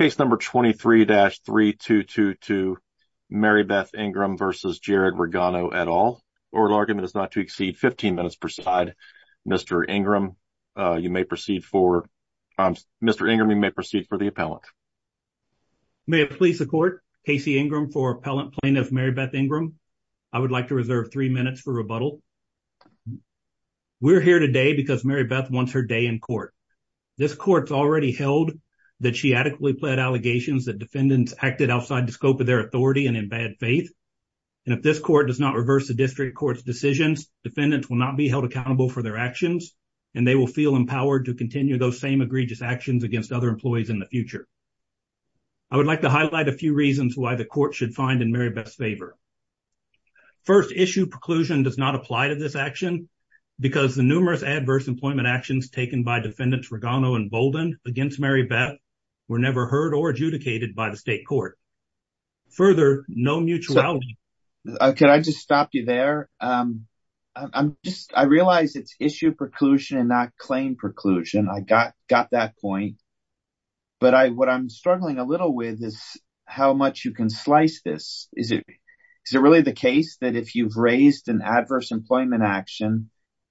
Case number 23-3222 Maribethe Ingram versus Jared Regano et al. Oral argument is not to exceed 15 minutes per side. Mr. Ingram, you may proceed for Mr. Ingram, you may proceed for the appellant. May it please the court, Casey Ingram for appellant plaintiff Maribethe Ingram. I would like to reserve three minutes for rebuttal. We're here today because Maribethe wants her day in allegations that defendants acted outside the scope of their authority and in bad faith. And if this court does not reverse the district court's decisions, defendants will not be held accountable for their actions and they will feel empowered to continue those same egregious actions against other employees in the future. I would like to highlight a few reasons why the court should find in Maribethe's favor. First, issue preclusion does not apply to this action because the numerous adverse employment actions taken by defendants Regano and Bolden against Maribethe were never heard or adjudicated by the state court. Further, no mutuality. Can I just stop you there? I realize it's issue preclusion and not claim preclusion. I got that point. But what I'm struggling a little with is how much you can slice this. Is it really the case that if you've raised an adverse employment action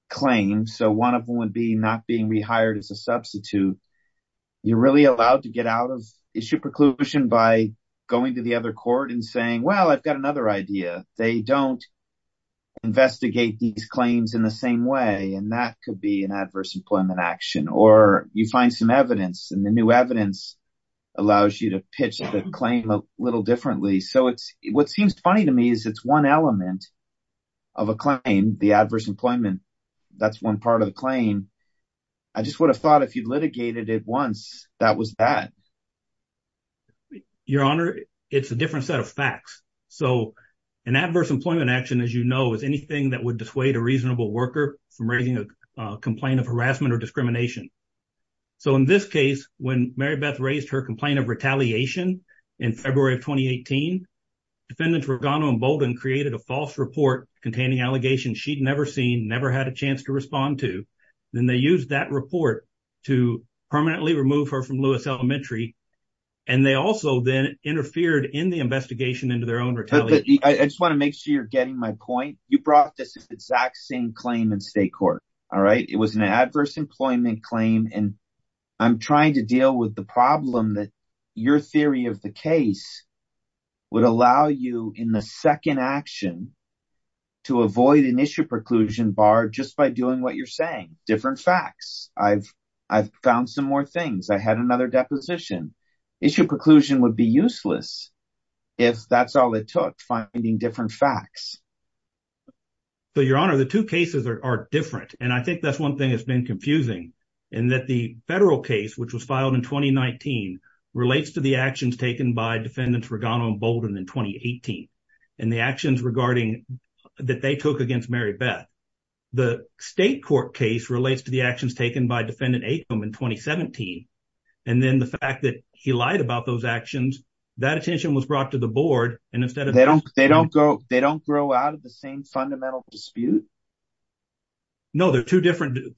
claim, so one of them would be not being hired as a substitute, you're really allowed to get out of issue preclusion by going to the other court and saying, well, I've got another idea. They don't investigate these claims in the same way. And that could be an adverse employment action or you find some evidence and the new evidence allows you to pitch the claim a little differently. So what seems funny to me is it's element of a claim, the adverse employment, that's one part of the claim. I just would have thought if you litigated it once, that was that. Your Honor, it's a different set of facts. So an adverse employment action, as you know, is anything that would dissuade a reasonable worker from raising a complaint of harassment or discrimination. So in this case, when Maribethe created a false report containing allegations she'd never seen, never had a chance to respond to, then they used that report to permanently remove her from Lewis Elementary. And they also then interfered in the investigation into their own retaliation. I just want to make sure you're getting my point. You brought this exact same claim in state court. All right. It was an adverse employment claim. And I'm trying to deal with the problem that your theory of the case would allow you in the second action to avoid an issue preclusion bar just by doing what you're saying, different facts. I've found some more things. I had another deposition. Issue preclusion would be useless if that's all it took, finding different facts. Your Honor, the two cases are different. And I think that's one thing that's been confusing in that the federal case, which was filed in 2019, relates to the actions taken by Defendants Regano and Bolden in 2018. And the actions regarding that they took against Maribethe. The state court case relates to the actions taken by Defendant Atom in 2017. And then the fact that he lied about those actions, that attention was brought to the board. And instead of... They don't grow out of the same fundamental dispute? No, they're two different.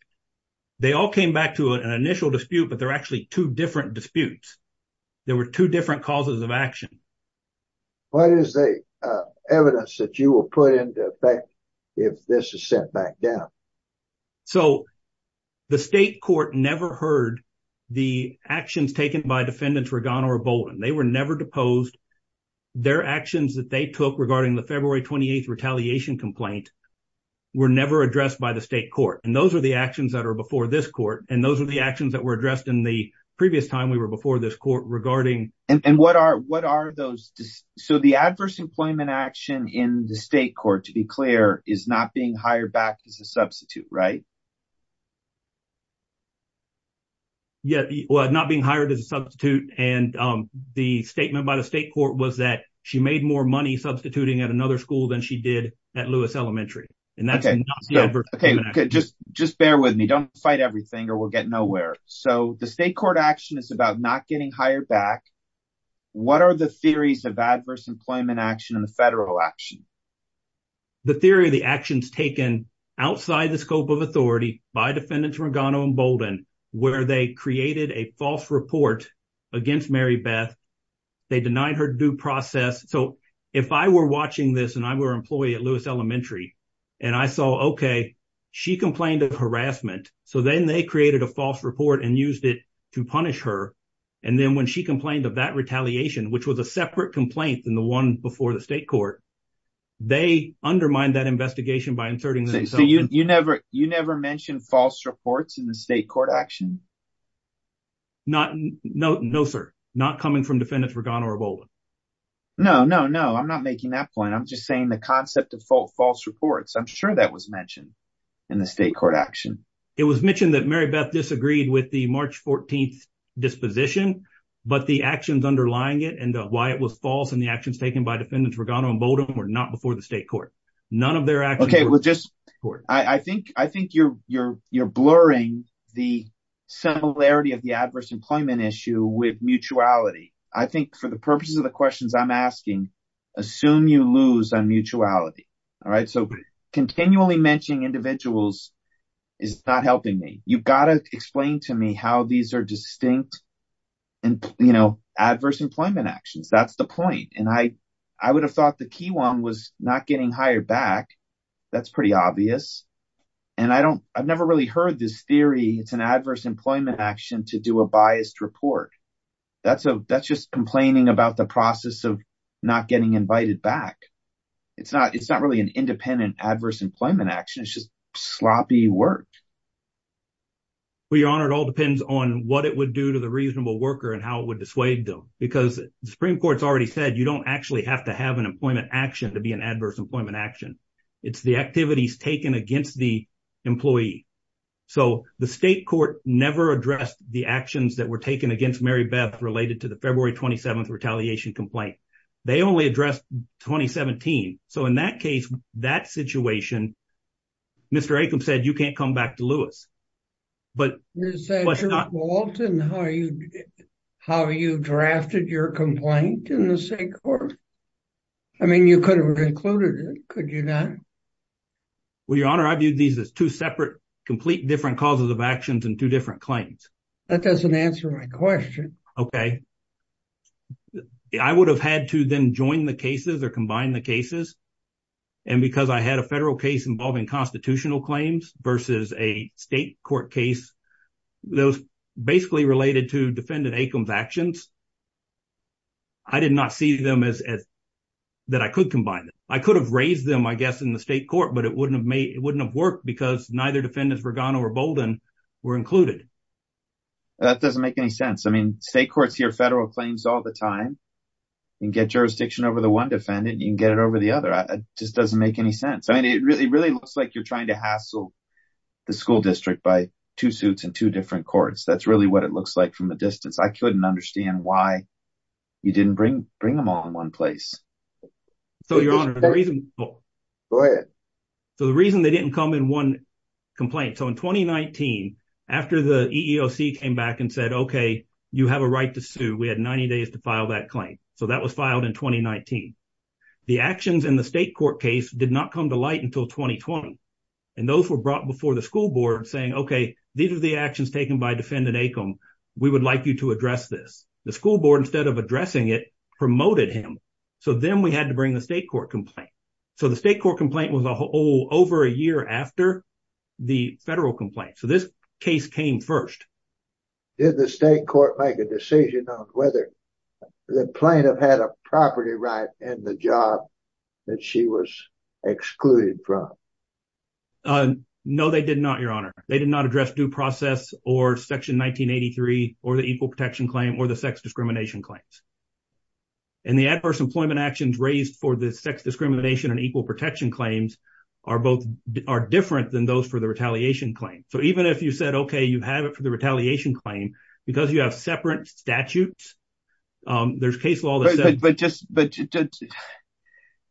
They all came back to an initial dispute, but they're actually two different disputes. There were two different causes of action. What is the evidence that you will put into effect if this is sent back down? So the state court never heard the actions taken by Defendants Regano or Bolden. They were never deposed. Their actions that they took regarding the February 28th retaliation complaint were never addressed by the state court. And those are the actions that are before this court. And those are the actions that were addressed in the previous time we were before this court regarding... And what are those... So the adverse employment action in the state court, to be clear, is not being hired back as a substitute, right? Yeah. Well, not being hired as a substitute. And the statement by the state court was that she made more money substituting at another school than she did at Lewis Elementary. And that's not Don't fight everything or we'll get nowhere. So the state court action is about not getting hired back. What are the theories of adverse employment action and the federal action? The theory of the actions taken outside the scope of authority by Defendants Regano and Bolden, where they created a false report against Mary Beth, they denied her due process. So if I were So then they created a false report and used it to punish her. And then when she complained of that retaliation, which was a separate complaint than the one before the state court, they undermined that investigation by inserting... So you never mentioned false reports in the state court action? No, sir. Not coming from Defendants Regano or Bolden. No, no, no. I'm not making that point. I'm just saying the concept of false reports. I'm sure that was mentioned in the state court action. It was mentioned that Mary Beth disagreed with the March 14th disposition, but the actions underlying it and why it was false in the actions taken by Defendants Regano and Bolden were not before the state court. None of their actions... I think you're blurring the similarity of the adverse employment issue with mutuality. I think for the purposes of the questions I'm asking, assume you lose on mutuality. So continually mentioning individuals is not helping me. You've got to explain to me how these are distinct adverse employment actions. That's the point. And I would have thought the key one was not getting hired back. That's pretty obvious. And I've never really heard this theory. It's an adverse employment action to do a biased report. That's just complaining about the process of not getting invited back. It's not really an independent adverse employment action. It's just sloppy work. Well, Your Honor, it all depends on what it would do to the reasonable worker and how it would dissuade them. Because the Supreme Court's already said you don't actually have to have an employment action to be an adverse employment action. It's the activities taken against the employee. So the state court never addressed the actions that were taken against Mary Beth related to the February 27th retaliation complaint. They only addressed 2017. So in that case, that situation, Mr. Aikum said you can't come back to Lewis. But is that your fault in how you drafted your complaint in the state court? I mean, you could have concluded it, could you not? Well, Your Honor, I viewed these as two separate, complete different causes of actions and two different claims. That doesn't answer my question. Okay. I would have had to then join the cases or combine the cases. And because I had a federal case involving constitutional claims versus a state court case, those basically related to defendant Aikum's actions, I did not see them as that I could combine them. I could have raised them, I guess, in the state court, but it wouldn't have worked because neither defendants, Vergano or Bolden, were included. That doesn't make any sense. I mean, state courts hear federal claims all the time and get jurisdiction over the one defendant, you can get it over the other. It just doesn't make any sense. I mean, it really looks like you're trying to hassle the school district by two suits and two different courts. That's really what it looks like from a distance. I couldn't understand why you didn't bring them all in one place. Go ahead. So the reason they didn't come in one complaint. So in 2019, after the EEOC came back and said, okay, you have a right to sue, we had 90 days to file that claim. So that was filed in 2019. The actions in the state court case did not come to light until 2020. And those were brought before the school board saying, okay, these are the actions taken by defendant Aikum. We would like you to address this. The school board, instead of addressing it, promoted him. So then we had to bring the state court complaint. So the state court complaint was over a year after the federal complaint. So this case came first. Did the state court make a decision on whether the plaintiff had a property right in the job that she was excluded from? No, they did not, your honor. They did not address due process or section 1983 or the equal protection claim or the sex discrimination claims. And the adverse employment actions raised for the sex discrimination and equal protection claims are different than those for the retaliation claim. So even if you said, okay, you have it for the retaliation claim, because you have separate statutes, there's case law. But just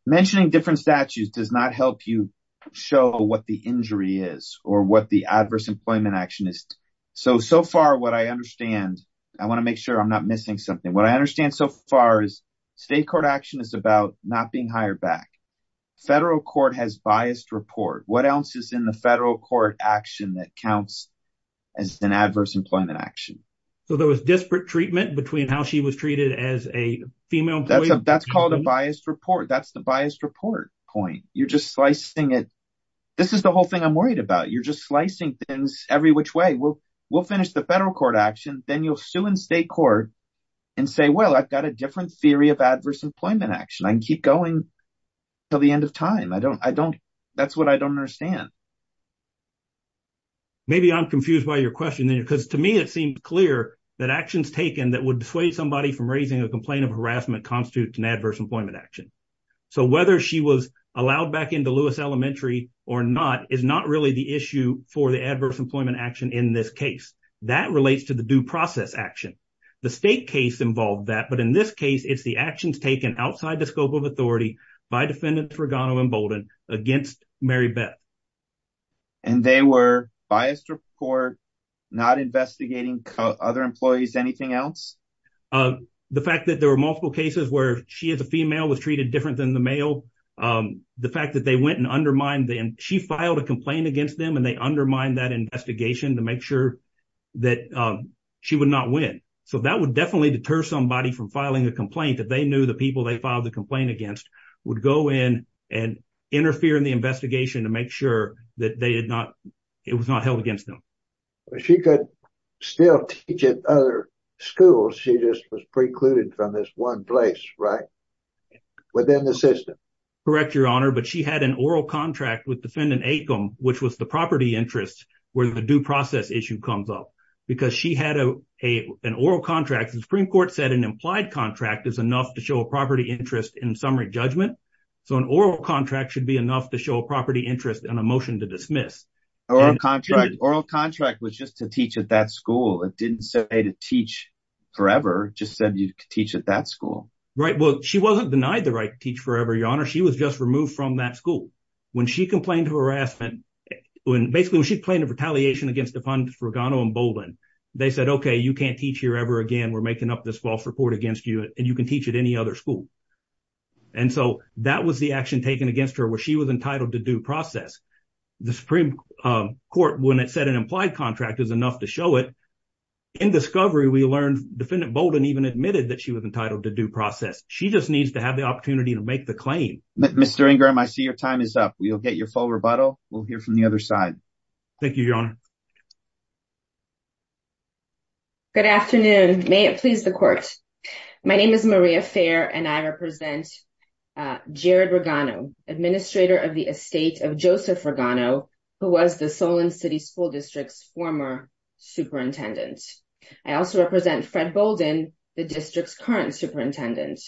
mentioning different statutes does not help you show what the injury is or what the adverse employment action is. So, so far what I understand, I want to make sure I'm not missing something. What I understand so far is state court action is about not being hired back. Federal court has biased report. What else is in the federal court action that counts as an adverse employment action? So there was disparate treatment between how she was treated as a female? That's called a biased report. That's the biased report point. You're just slicing it. This is the whole thing I'm worried about. You're just slicing things every which way. We'll, we'll finish the federal court action. Then you'll sue in state court and say, well, I've got a different theory of adverse employment action. I can keep going until the end of time. I don't, I don't, that's what I don't understand. Maybe I'm confused by your question then, because to me, it seemed clear that actions taken that would dissuade somebody from raising a complaint of harassment constitutes an adverse employment action. So whether she was allowed back into Lewis Elementary or not is not really the issue for the adverse employment action in this case. That relates to the due process action. The state involved that, but in this case, it's the actions taken outside the scope of authority by defendants, Regano and Bolden against Mary Beth. And they were biased report, not investigating other employees, anything else? The fact that there were multiple cases where she is a female was treated different than the male. The fact that they went and undermined them, she filed a complaint against them and they undermine that investigation to make sure that she would not win. So that would definitely deter somebody from filing a complaint that they knew the people they filed the complaint against would go in and interfere in the investigation to make sure that they had not, it was not held against them. She could still teach at other schools. She just was precluded from this one place, right? Within the system. Correct, your honor. But she had an oral contract with defendant Acom, which was the property interest where the due process issue comes up because she had an oral contract. The Supreme Court said an implied contract is enough to show a property interest in summary judgment. So an oral contract should be enough to show a property interest in a motion to dismiss. Oral contract was just to teach at that school. It didn't say to teach forever, just said you could teach at that school. Right. Well, she wasn't denied the right to teach forever, your honor. She was just removed from that school. When she complained of harassment, when basically when she complained of retaliation against the fund for Ghana and Bowdoin, they said, okay, you can't teach here ever again. We're making up this false report against you and you can teach at any other school. And so that was the action taken against her where she was entitled to due process. The Supreme Court, when it said an implied contract is enough to show it in discovery, we learned defendant Bowdoin even admitted that she was entitled to due process. She just needs to have the opportunity to make the claim. Mr. Ingram, I see your time is up. We'll get your full rebuttal. We'll hear from the other side. Thank you, your honor. Good afternoon. May it please the court. My name is Maria Fair and I represent Jared Regano, administrator of the estate of Joseph Regano, who was the Solon City School District's former superintendent. I also represent Fred Bowdoin, the district's current superintendent.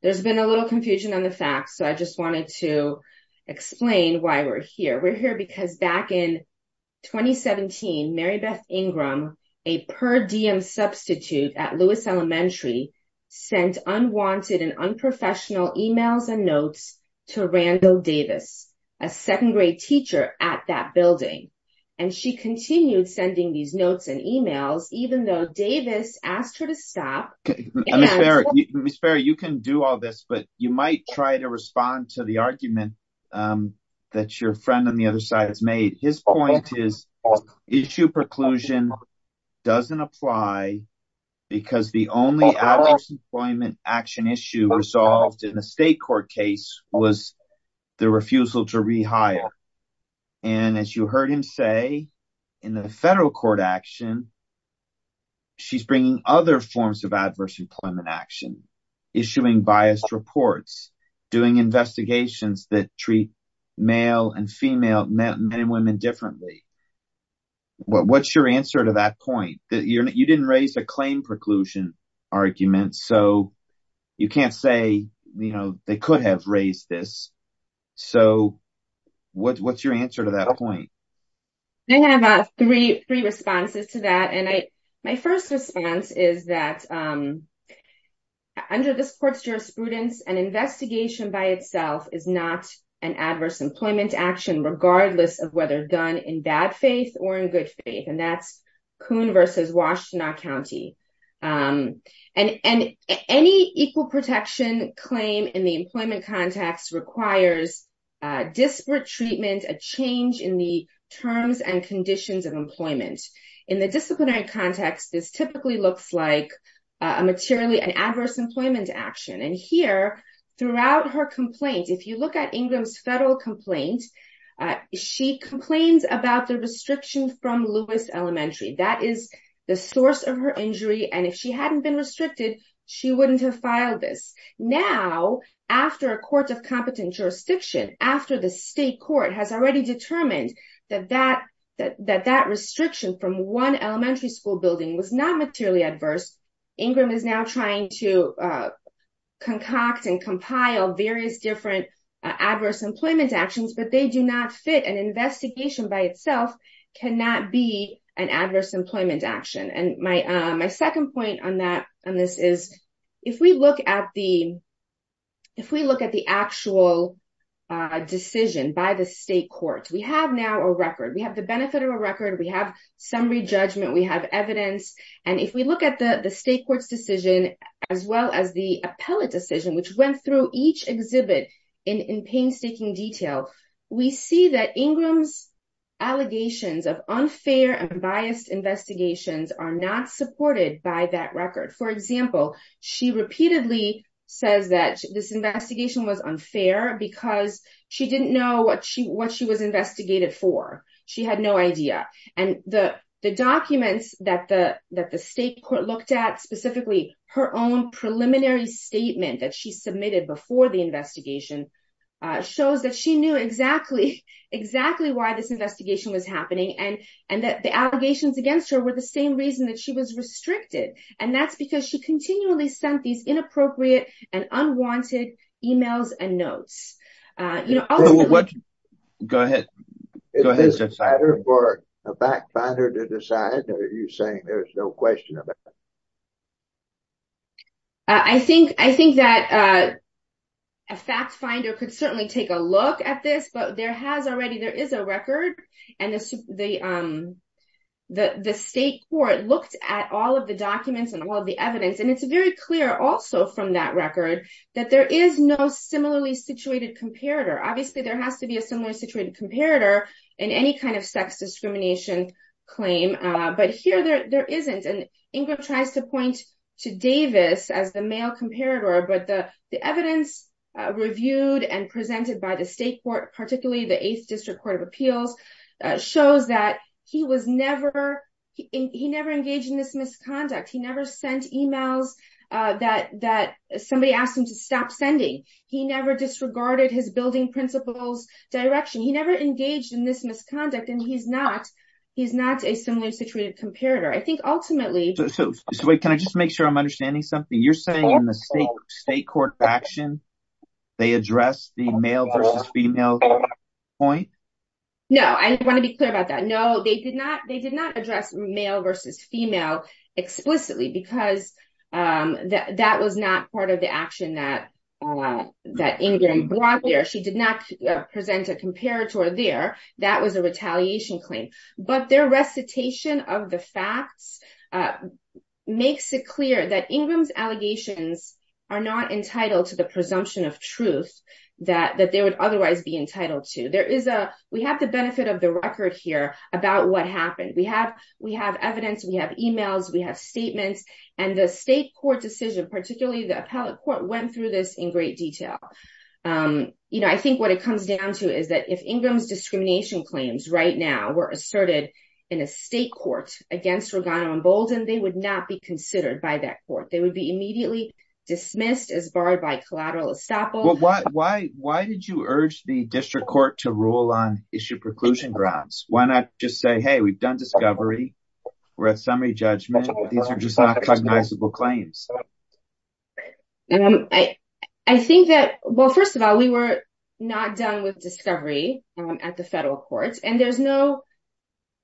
There's been a little confusion on the facts, so I just wanted to explain why we're here. We're here because back in 2017, Mary Beth Ingram, a per diem substitute at Lewis Elementary, sent unwanted and unprofessional emails and notes to Randall Davis, a second grade teacher at that building. And she continued sending these notes and emails, even though Davis asked her to stop. Ms. Ferry, you can do all this, but you might try to respond to the argument that your friend on the other side has made. His point is issue preclusion doesn't apply because the only average employment action issue resolved in the state court case was the refusal to rehire. And as you heard him say, in the federal court action, she's bringing other forms of adverse employment action, issuing biased reports, doing investigations that treat male and female, men and women differently. What's your answer to that point? You didn't raise a I have three responses to that. And my first response is that under this court's jurisprudence, an investigation by itself is not an adverse employment action, regardless of whether done in bad faith or in good faith. And that's Coon versus Washtenaw County. And any equal protection claim in the employment context requires disparate treatment, a change in the terms and conditions of employment. In the disciplinary context, this typically looks like a materially an adverse employment action. And here, throughout her complaint, if you look at Ingram's federal complaint, she complains about the and if she hadn't been restricted, she wouldn't have filed this. Now, after a court of competent jurisdiction after the state court has already determined that that restriction from one elementary school building was not materially adverse. Ingram is now trying to concoct and compile various different adverse employment actions, but they do not fit an investigation by itself cannot be an adverse employment action. And my second point on this is, if we look at the actual decision by the state court, we have now a record, we have the benefit of a record, we have summary judgment, we have evidence. And if we look at the state court's decision, as well as the appellate decision, which went through each exhibit in painstaking detail, we see that Ingram's allegations of unfair and biased investigations are not supported by that record. For example, she repeatedly says that this investigation was unfair because she didn't know what she was investigated for. She had no idea. And the documents that the state court looked at specifically her own preliminary statement that she submitted before the exactly exactly why this investigation was happening and, and that the allegations against her were the same reason that she was restricted. And that's because she continually sent these inappropriate and unwanted emails and notes. You know, what? Go ahead. Go ahead. A fact finder to decide that you're saying there's no question. But I think I think that a fact finder could certainly take a look at this, but there has already there is a record. And the the the state court looked at all of the documents and all the evidence. And it's very clear also from that record, that there is no similarly situated comparator. Obviously, there has to be a similar situated comparator in any kind of sex discrimination claim. But here there isn't. And Ingrid tries to point to Davis as the male comparator. But the the evidence reviewed and presented by the state court, particularly the eighth district court of appeals, shows that he was never he never engaged in this misconduct. He never sent emails that that somebody asked him to stop sending. He never disregarded his building principles direction. He never engaged in this misconduct. And he's not he's not a similar situated comparator. I think ultimately. So can I just make sure I'm understanding something you're saying in the state court action? They address the male versus female point? No, I want to be clear about that. No, they did not. They did not address male versus female explicitly because that was not part of the there. That was a retaliation claim. But their recitation of the facts makes it clear that Ingram's allegations are not entitled to the presumption of truth that that they would otherwise be entitled to. There is a we have the benefit of the record here about what happened. We have we have evidence. We have emails. We have statements. And the state court decision, particularly the appellate court, went through this in great detail. You know, I think what it discrimination claims right now were asserted in a state court against Ragana and Bolden, they would not be considered by that court. They would be immediately dismissed as barred by collateral estoppel. Why why did you urge the district court to rule on issue preclusion grounds? Why not just say, hey, we've done discovery. We're at summary judgment. These are just recognizable claims. I think that well, first of all, we were not done with discovery. At the federal courts. And there's no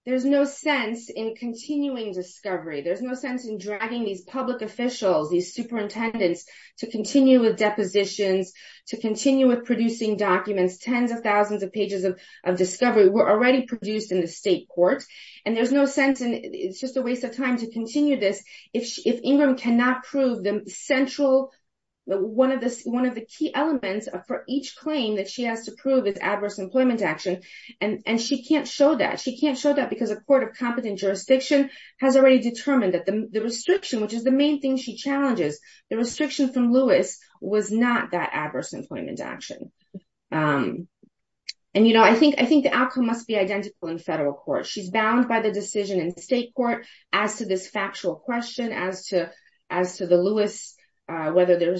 there's no sense in continuing discovery. There's no sense in dragging these public officials, these superintendents to continue with depositions, to continue with producing documents. Tens of thousands of pages of discovery were already produced in the state court. And there's no sense. And it's just a waste of time to continue this. If if Ingram cannot prove the central one of the one of the key elements for each claim that she has to prove is adverse employment action. And she can't show that she can't show that because a court of competent jurisdiction has already determined that the restriction, which is the main thing she challenges, the restriction from Lewis was not that adverse employment action. And, you know, I think I think the outcome must be identical in federal court. She's bound by the decision in state court as to this factual question as to as to the Lewis, whether the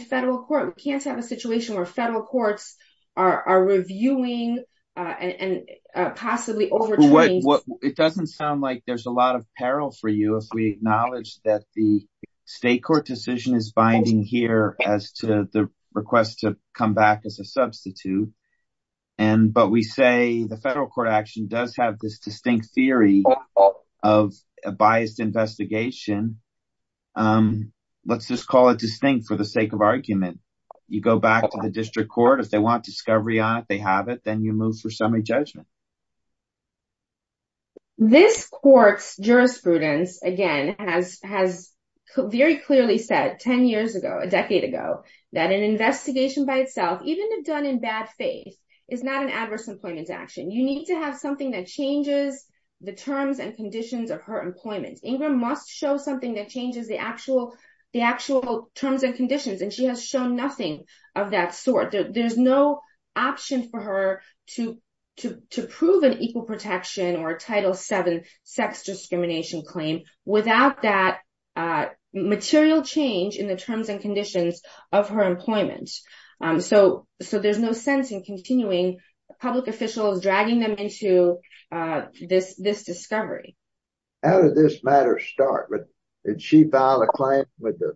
federal court can't have a situation where federal courts are reviewing and possibly over. It doesn't sound like there's a lot of peril for you if we acknowledge that the state court decision is binding here as to the request to come back as a substitute. And but we say the federal court action does have this distinct theory of a biased investigation. Let's just call it distinct for the sake of argument. You go back to the district court. If they want discovery on it, they have it. Then you move for summary judgment. This court's jurisprudence, again, has has very clearly said 10 years ago, a decade ago, that an investigation by itself, even if done in bad faith, is not an adverse employment action. You need to have something that changes the terms and conditions of her employment. Ingram must show something that changes the actual the actual terms and conditions. And she has shown nothing of that sort. There's no option for her to to to prove an equal protection or a Title seven sex discrimination claim without that material change in the terms and conditions of her employment. So so there's no sense in continuing public officials dragging them into this this discovery. How did this matter start? Did she file a claim with the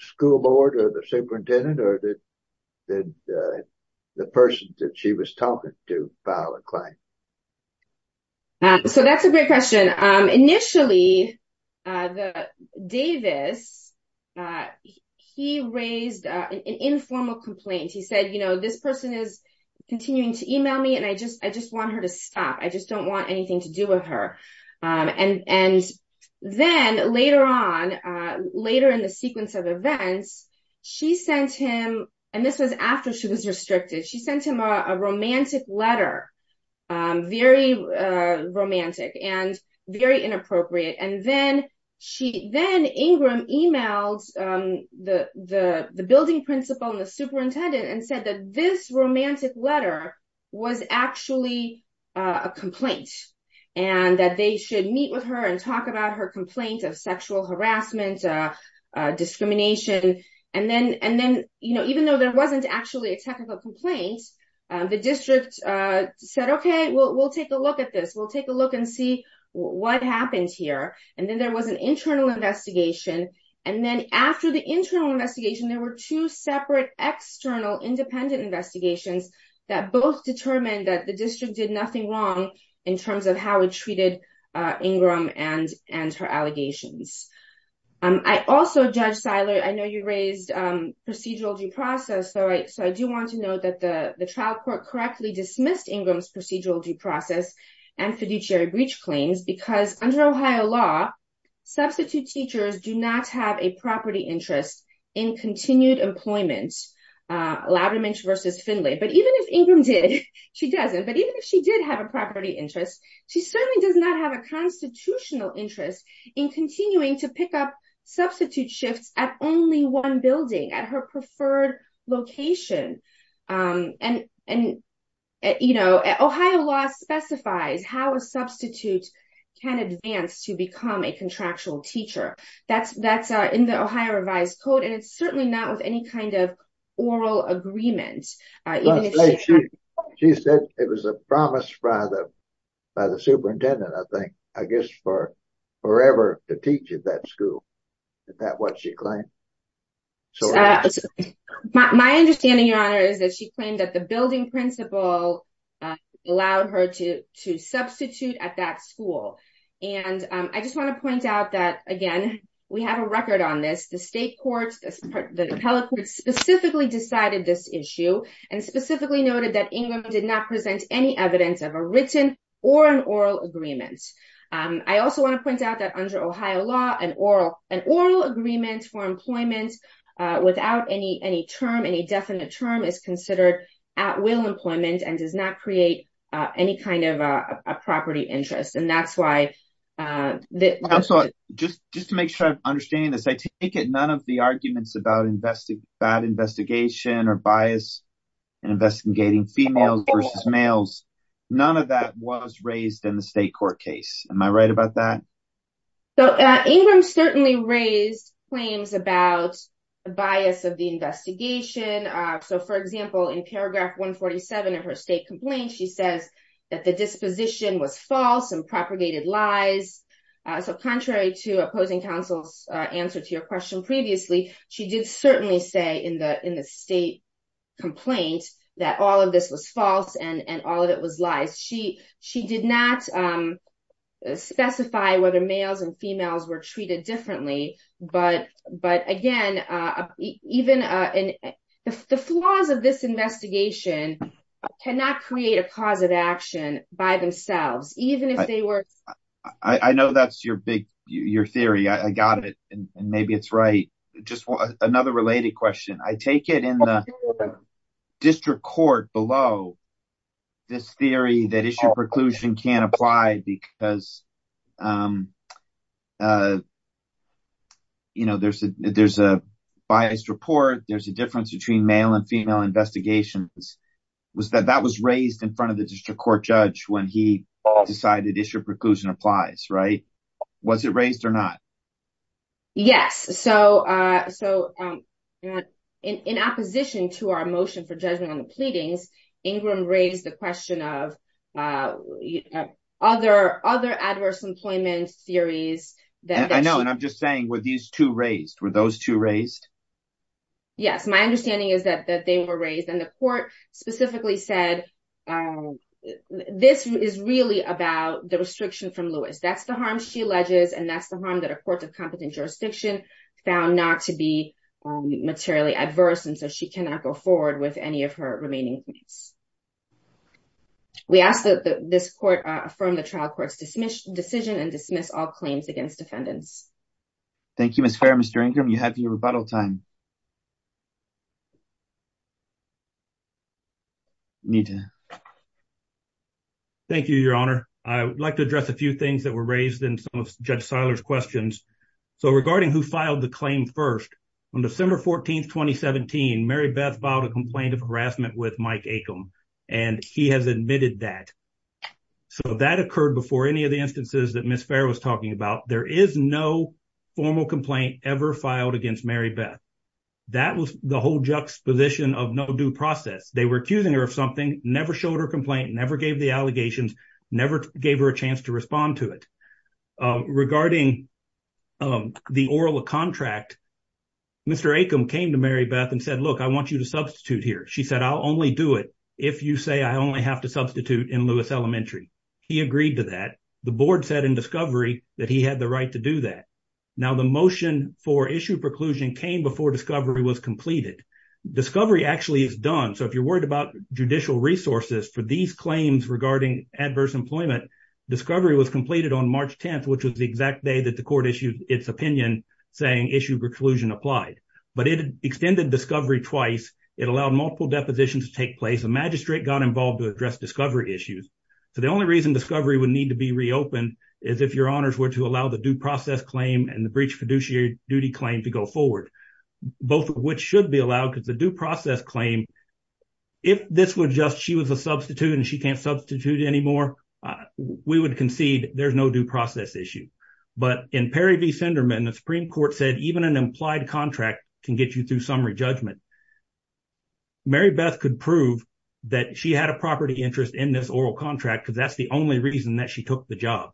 school board or the superintendent or did did the person that she was talking to file a claim? So that's a great question. Initially, Davis, he raised an informal complaint. He said, you know, this person is continuing to email me and I just I just want her to stop. I just don't want anything to do with her. And then later on, later in the sequence of events, she sent him and this was after she was restricted. She sent him a romantic letter, very romantic and very inappropriate. And then she then Ingram emailed the the the building principal and the superintendent and said that this romantic letter was actually a complaint and that they should meet with her and talk about her complaint of sexual harassment, discrimination. And then and then, you know, even though there wasn't actually a technical complaint, the district said, OK, well, we'll take a look at this. We'll take a look and see what happens here. And then there was an internal investigation. And then after the internal investigation, there were two separate external independent investigations that both determined that the district did nothing wrong in terms of how it treated Ingram and and her allegations. I also, Judge Seiler, I know you raised procedural due process. So I so I do want to note that the trial court correctly dismissed Ingram's procedural due property interest in continued employment. Loudermilch versus Findlay. But even if Ingram did, she doesn't. But even if she did have a property interest, she certainly does not have a constitutional interest in continuing to pick up substitute shifts at only one building at her preferred location. And and, you know, Ohio law specifies how a substitute can advance to become a contractual teacher. That's that's in the Ohio revised code. And it's certainly not with any kind of oral agreement. She said it was a promise rather by the superintendent, I think, I guess, for forever to teach at that school. Is that what she claimed? My understanding, Your Honor, is that she claimed that the building principal allowed her to to substitute at that school. And I just want to point out that, again, we have a record on this. The state courts, the appellate courts specifically decided this issue and specifically noted that Ingram did not present any evidence of a written or an oral agreement. I also want to point out that under Ohio law, an oral an oral agreement for employment without any any term, any definite term is considered at will employment and does not create any kind of a property interest. And that's why just just to make sure I'm understanding this, I take it none of the arguments about that investigation or bias in investigating females versus males. None of that was raised in the state court case. Am I right about that? So Ingram certainly raised claims about the bias of the investigation. So, for example, in paragraph 147 of her state complaint, she says that the disposition was false and propagated lies. So contrary to opposing counsel's answer to your question previously, she did certainly say in the in the state complaint that all of this was false and all of it was lies. She she did not specify whether males and females were treated differently. But but again, even in the flaws of this investigation cannot create a cause of action by themselves, even if they were. I know that's your big your theory. I got it. And maybe it's right. Just another related question. I take it in the district court below this theory that issue preclusion can apply because. You know, there's a there's a biased report. There's a difference between male and female investigations was that that was raised in front of the district court judge when he decided issue preclusion applies. Right. Was it raised or not? Yes. So so in opposition to our motion for judgment on the pleadings, Ingram raised the question of other other adverse employment theories that I know. And I'm just saying with these two raised with those two raised. Yes, my understanding is that they were raised and the court specifically said this is really about the restriction from Lewis. That's the she alleges. And that's the harm that a court of competent jurisdiction found not to be materially adverse. And so she cannot go forward with any of her remaining points. We asked that this court from the trial court's dismiss decision and dismiss all claims against defendants. Thank you, Miss Fair. Mr. Ingram, you have your rebuttal time. You need to. Thank you, Your Honor. I would like to address a few things that were raised in some of Judge Seiler's questions. So regarding who filed the claim first on December 14th, 2017, Mary Beth filed a complaint of harassment with Mike Acom, and he has admitted that. So that occurred before any of the instances that Miss Fair was talking about. There is no formal complaint ever filed against Mary Beth. That was the whole juxtaposition of no due process. They were accusing her of something, never showed her complaint, never gave the allegations, never gave her a chance to respond to it. Regarding the oral contract, Mr. Acom came to Mary Beth and said, look, I want you to substitute here. She said, I'll only do it if you say I only have to substitute in Lewis Elementary. He agreed to that. The board said in discovery that he had the right to do that. Now the motion for issue preclusion came before discovery was completed. Discovery actually is done. So if you're worried about judicial resources for these claims regarding adverse employment, discovery was completed on March 10th, which was the exact day that the court issued its opinion saying issue preclusion applied. But it extended discovery twice. It allowed multiple depositions to take place. The magistrate got involved to address discovery issues. So the only reason discovery would need to be reopened if your honors were to allow the due process claim and the breach fiduciary duty claim to go forward, both of which should be allowed because the due process claim, if this was just she was a substitute and she can't substitute anymore, we would concede there's no due process issue. But in Perry v. Sinderman, the Supreme Court said even an implied contract can get you through summary judgment. Mary Beth could prove that she had a property interest in this oral contract because that's the only reason that she took the job.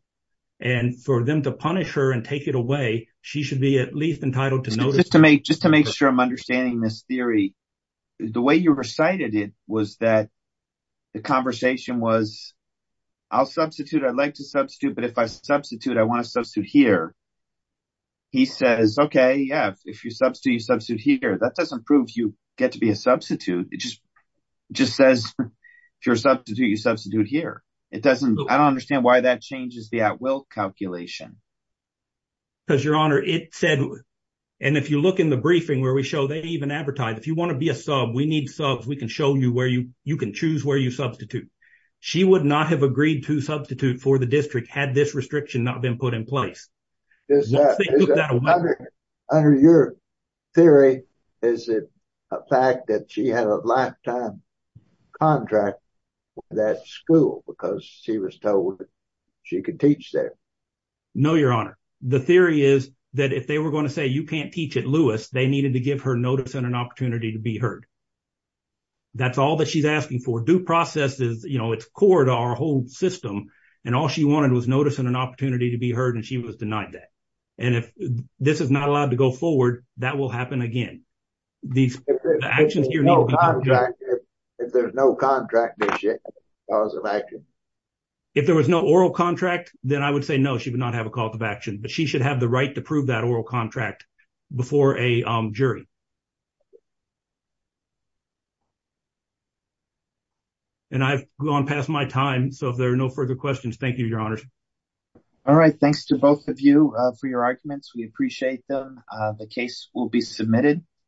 And for them to punish her and take it away, she should be at least entitled to notice. Just to make sure I'm understanding this theory, the way you recited it was that the conversation was, I'll substitute. I'd like to substitute. But if I substitute, I want to substitute here. He says, OK, yeah, if you substitute, you substitute here. That doesn't prove you get to be a substitute. It just says if you're a substitute, you substitute here. I don't understand why that changes the at-will calculation. Because your honor, it said, and if you look in the briefing where we show they even advertise, if you want to be a sub, we need subs. We can show you where you can choose where you substitute. She would not have agreed to substitute for the district had this restriction not been put in place. Under your theory, is it a fact that she had a lifetime contract with that school because she was told she could teach there? No, your honor. The theory is that if they were going to say you can't teach at Lewis, they needed to give her notice and an opportunity to be heard. That's all that she's asking for. Due process is, you know, it's court, our whole system. And all she wanted was notice and an opportunity to be heard. And she was denied that. And if this is not allowed to go forward, that will happen again. If there was no oral contract, then I would say no, she would not have a call to action. But she should have the right to prove that oral contract before a jury. And I've gone past my time. So if there are no further questions, thank you, your honors. All right. Thanks to both of you for your arguments. We appreciate them. The case will be submitted.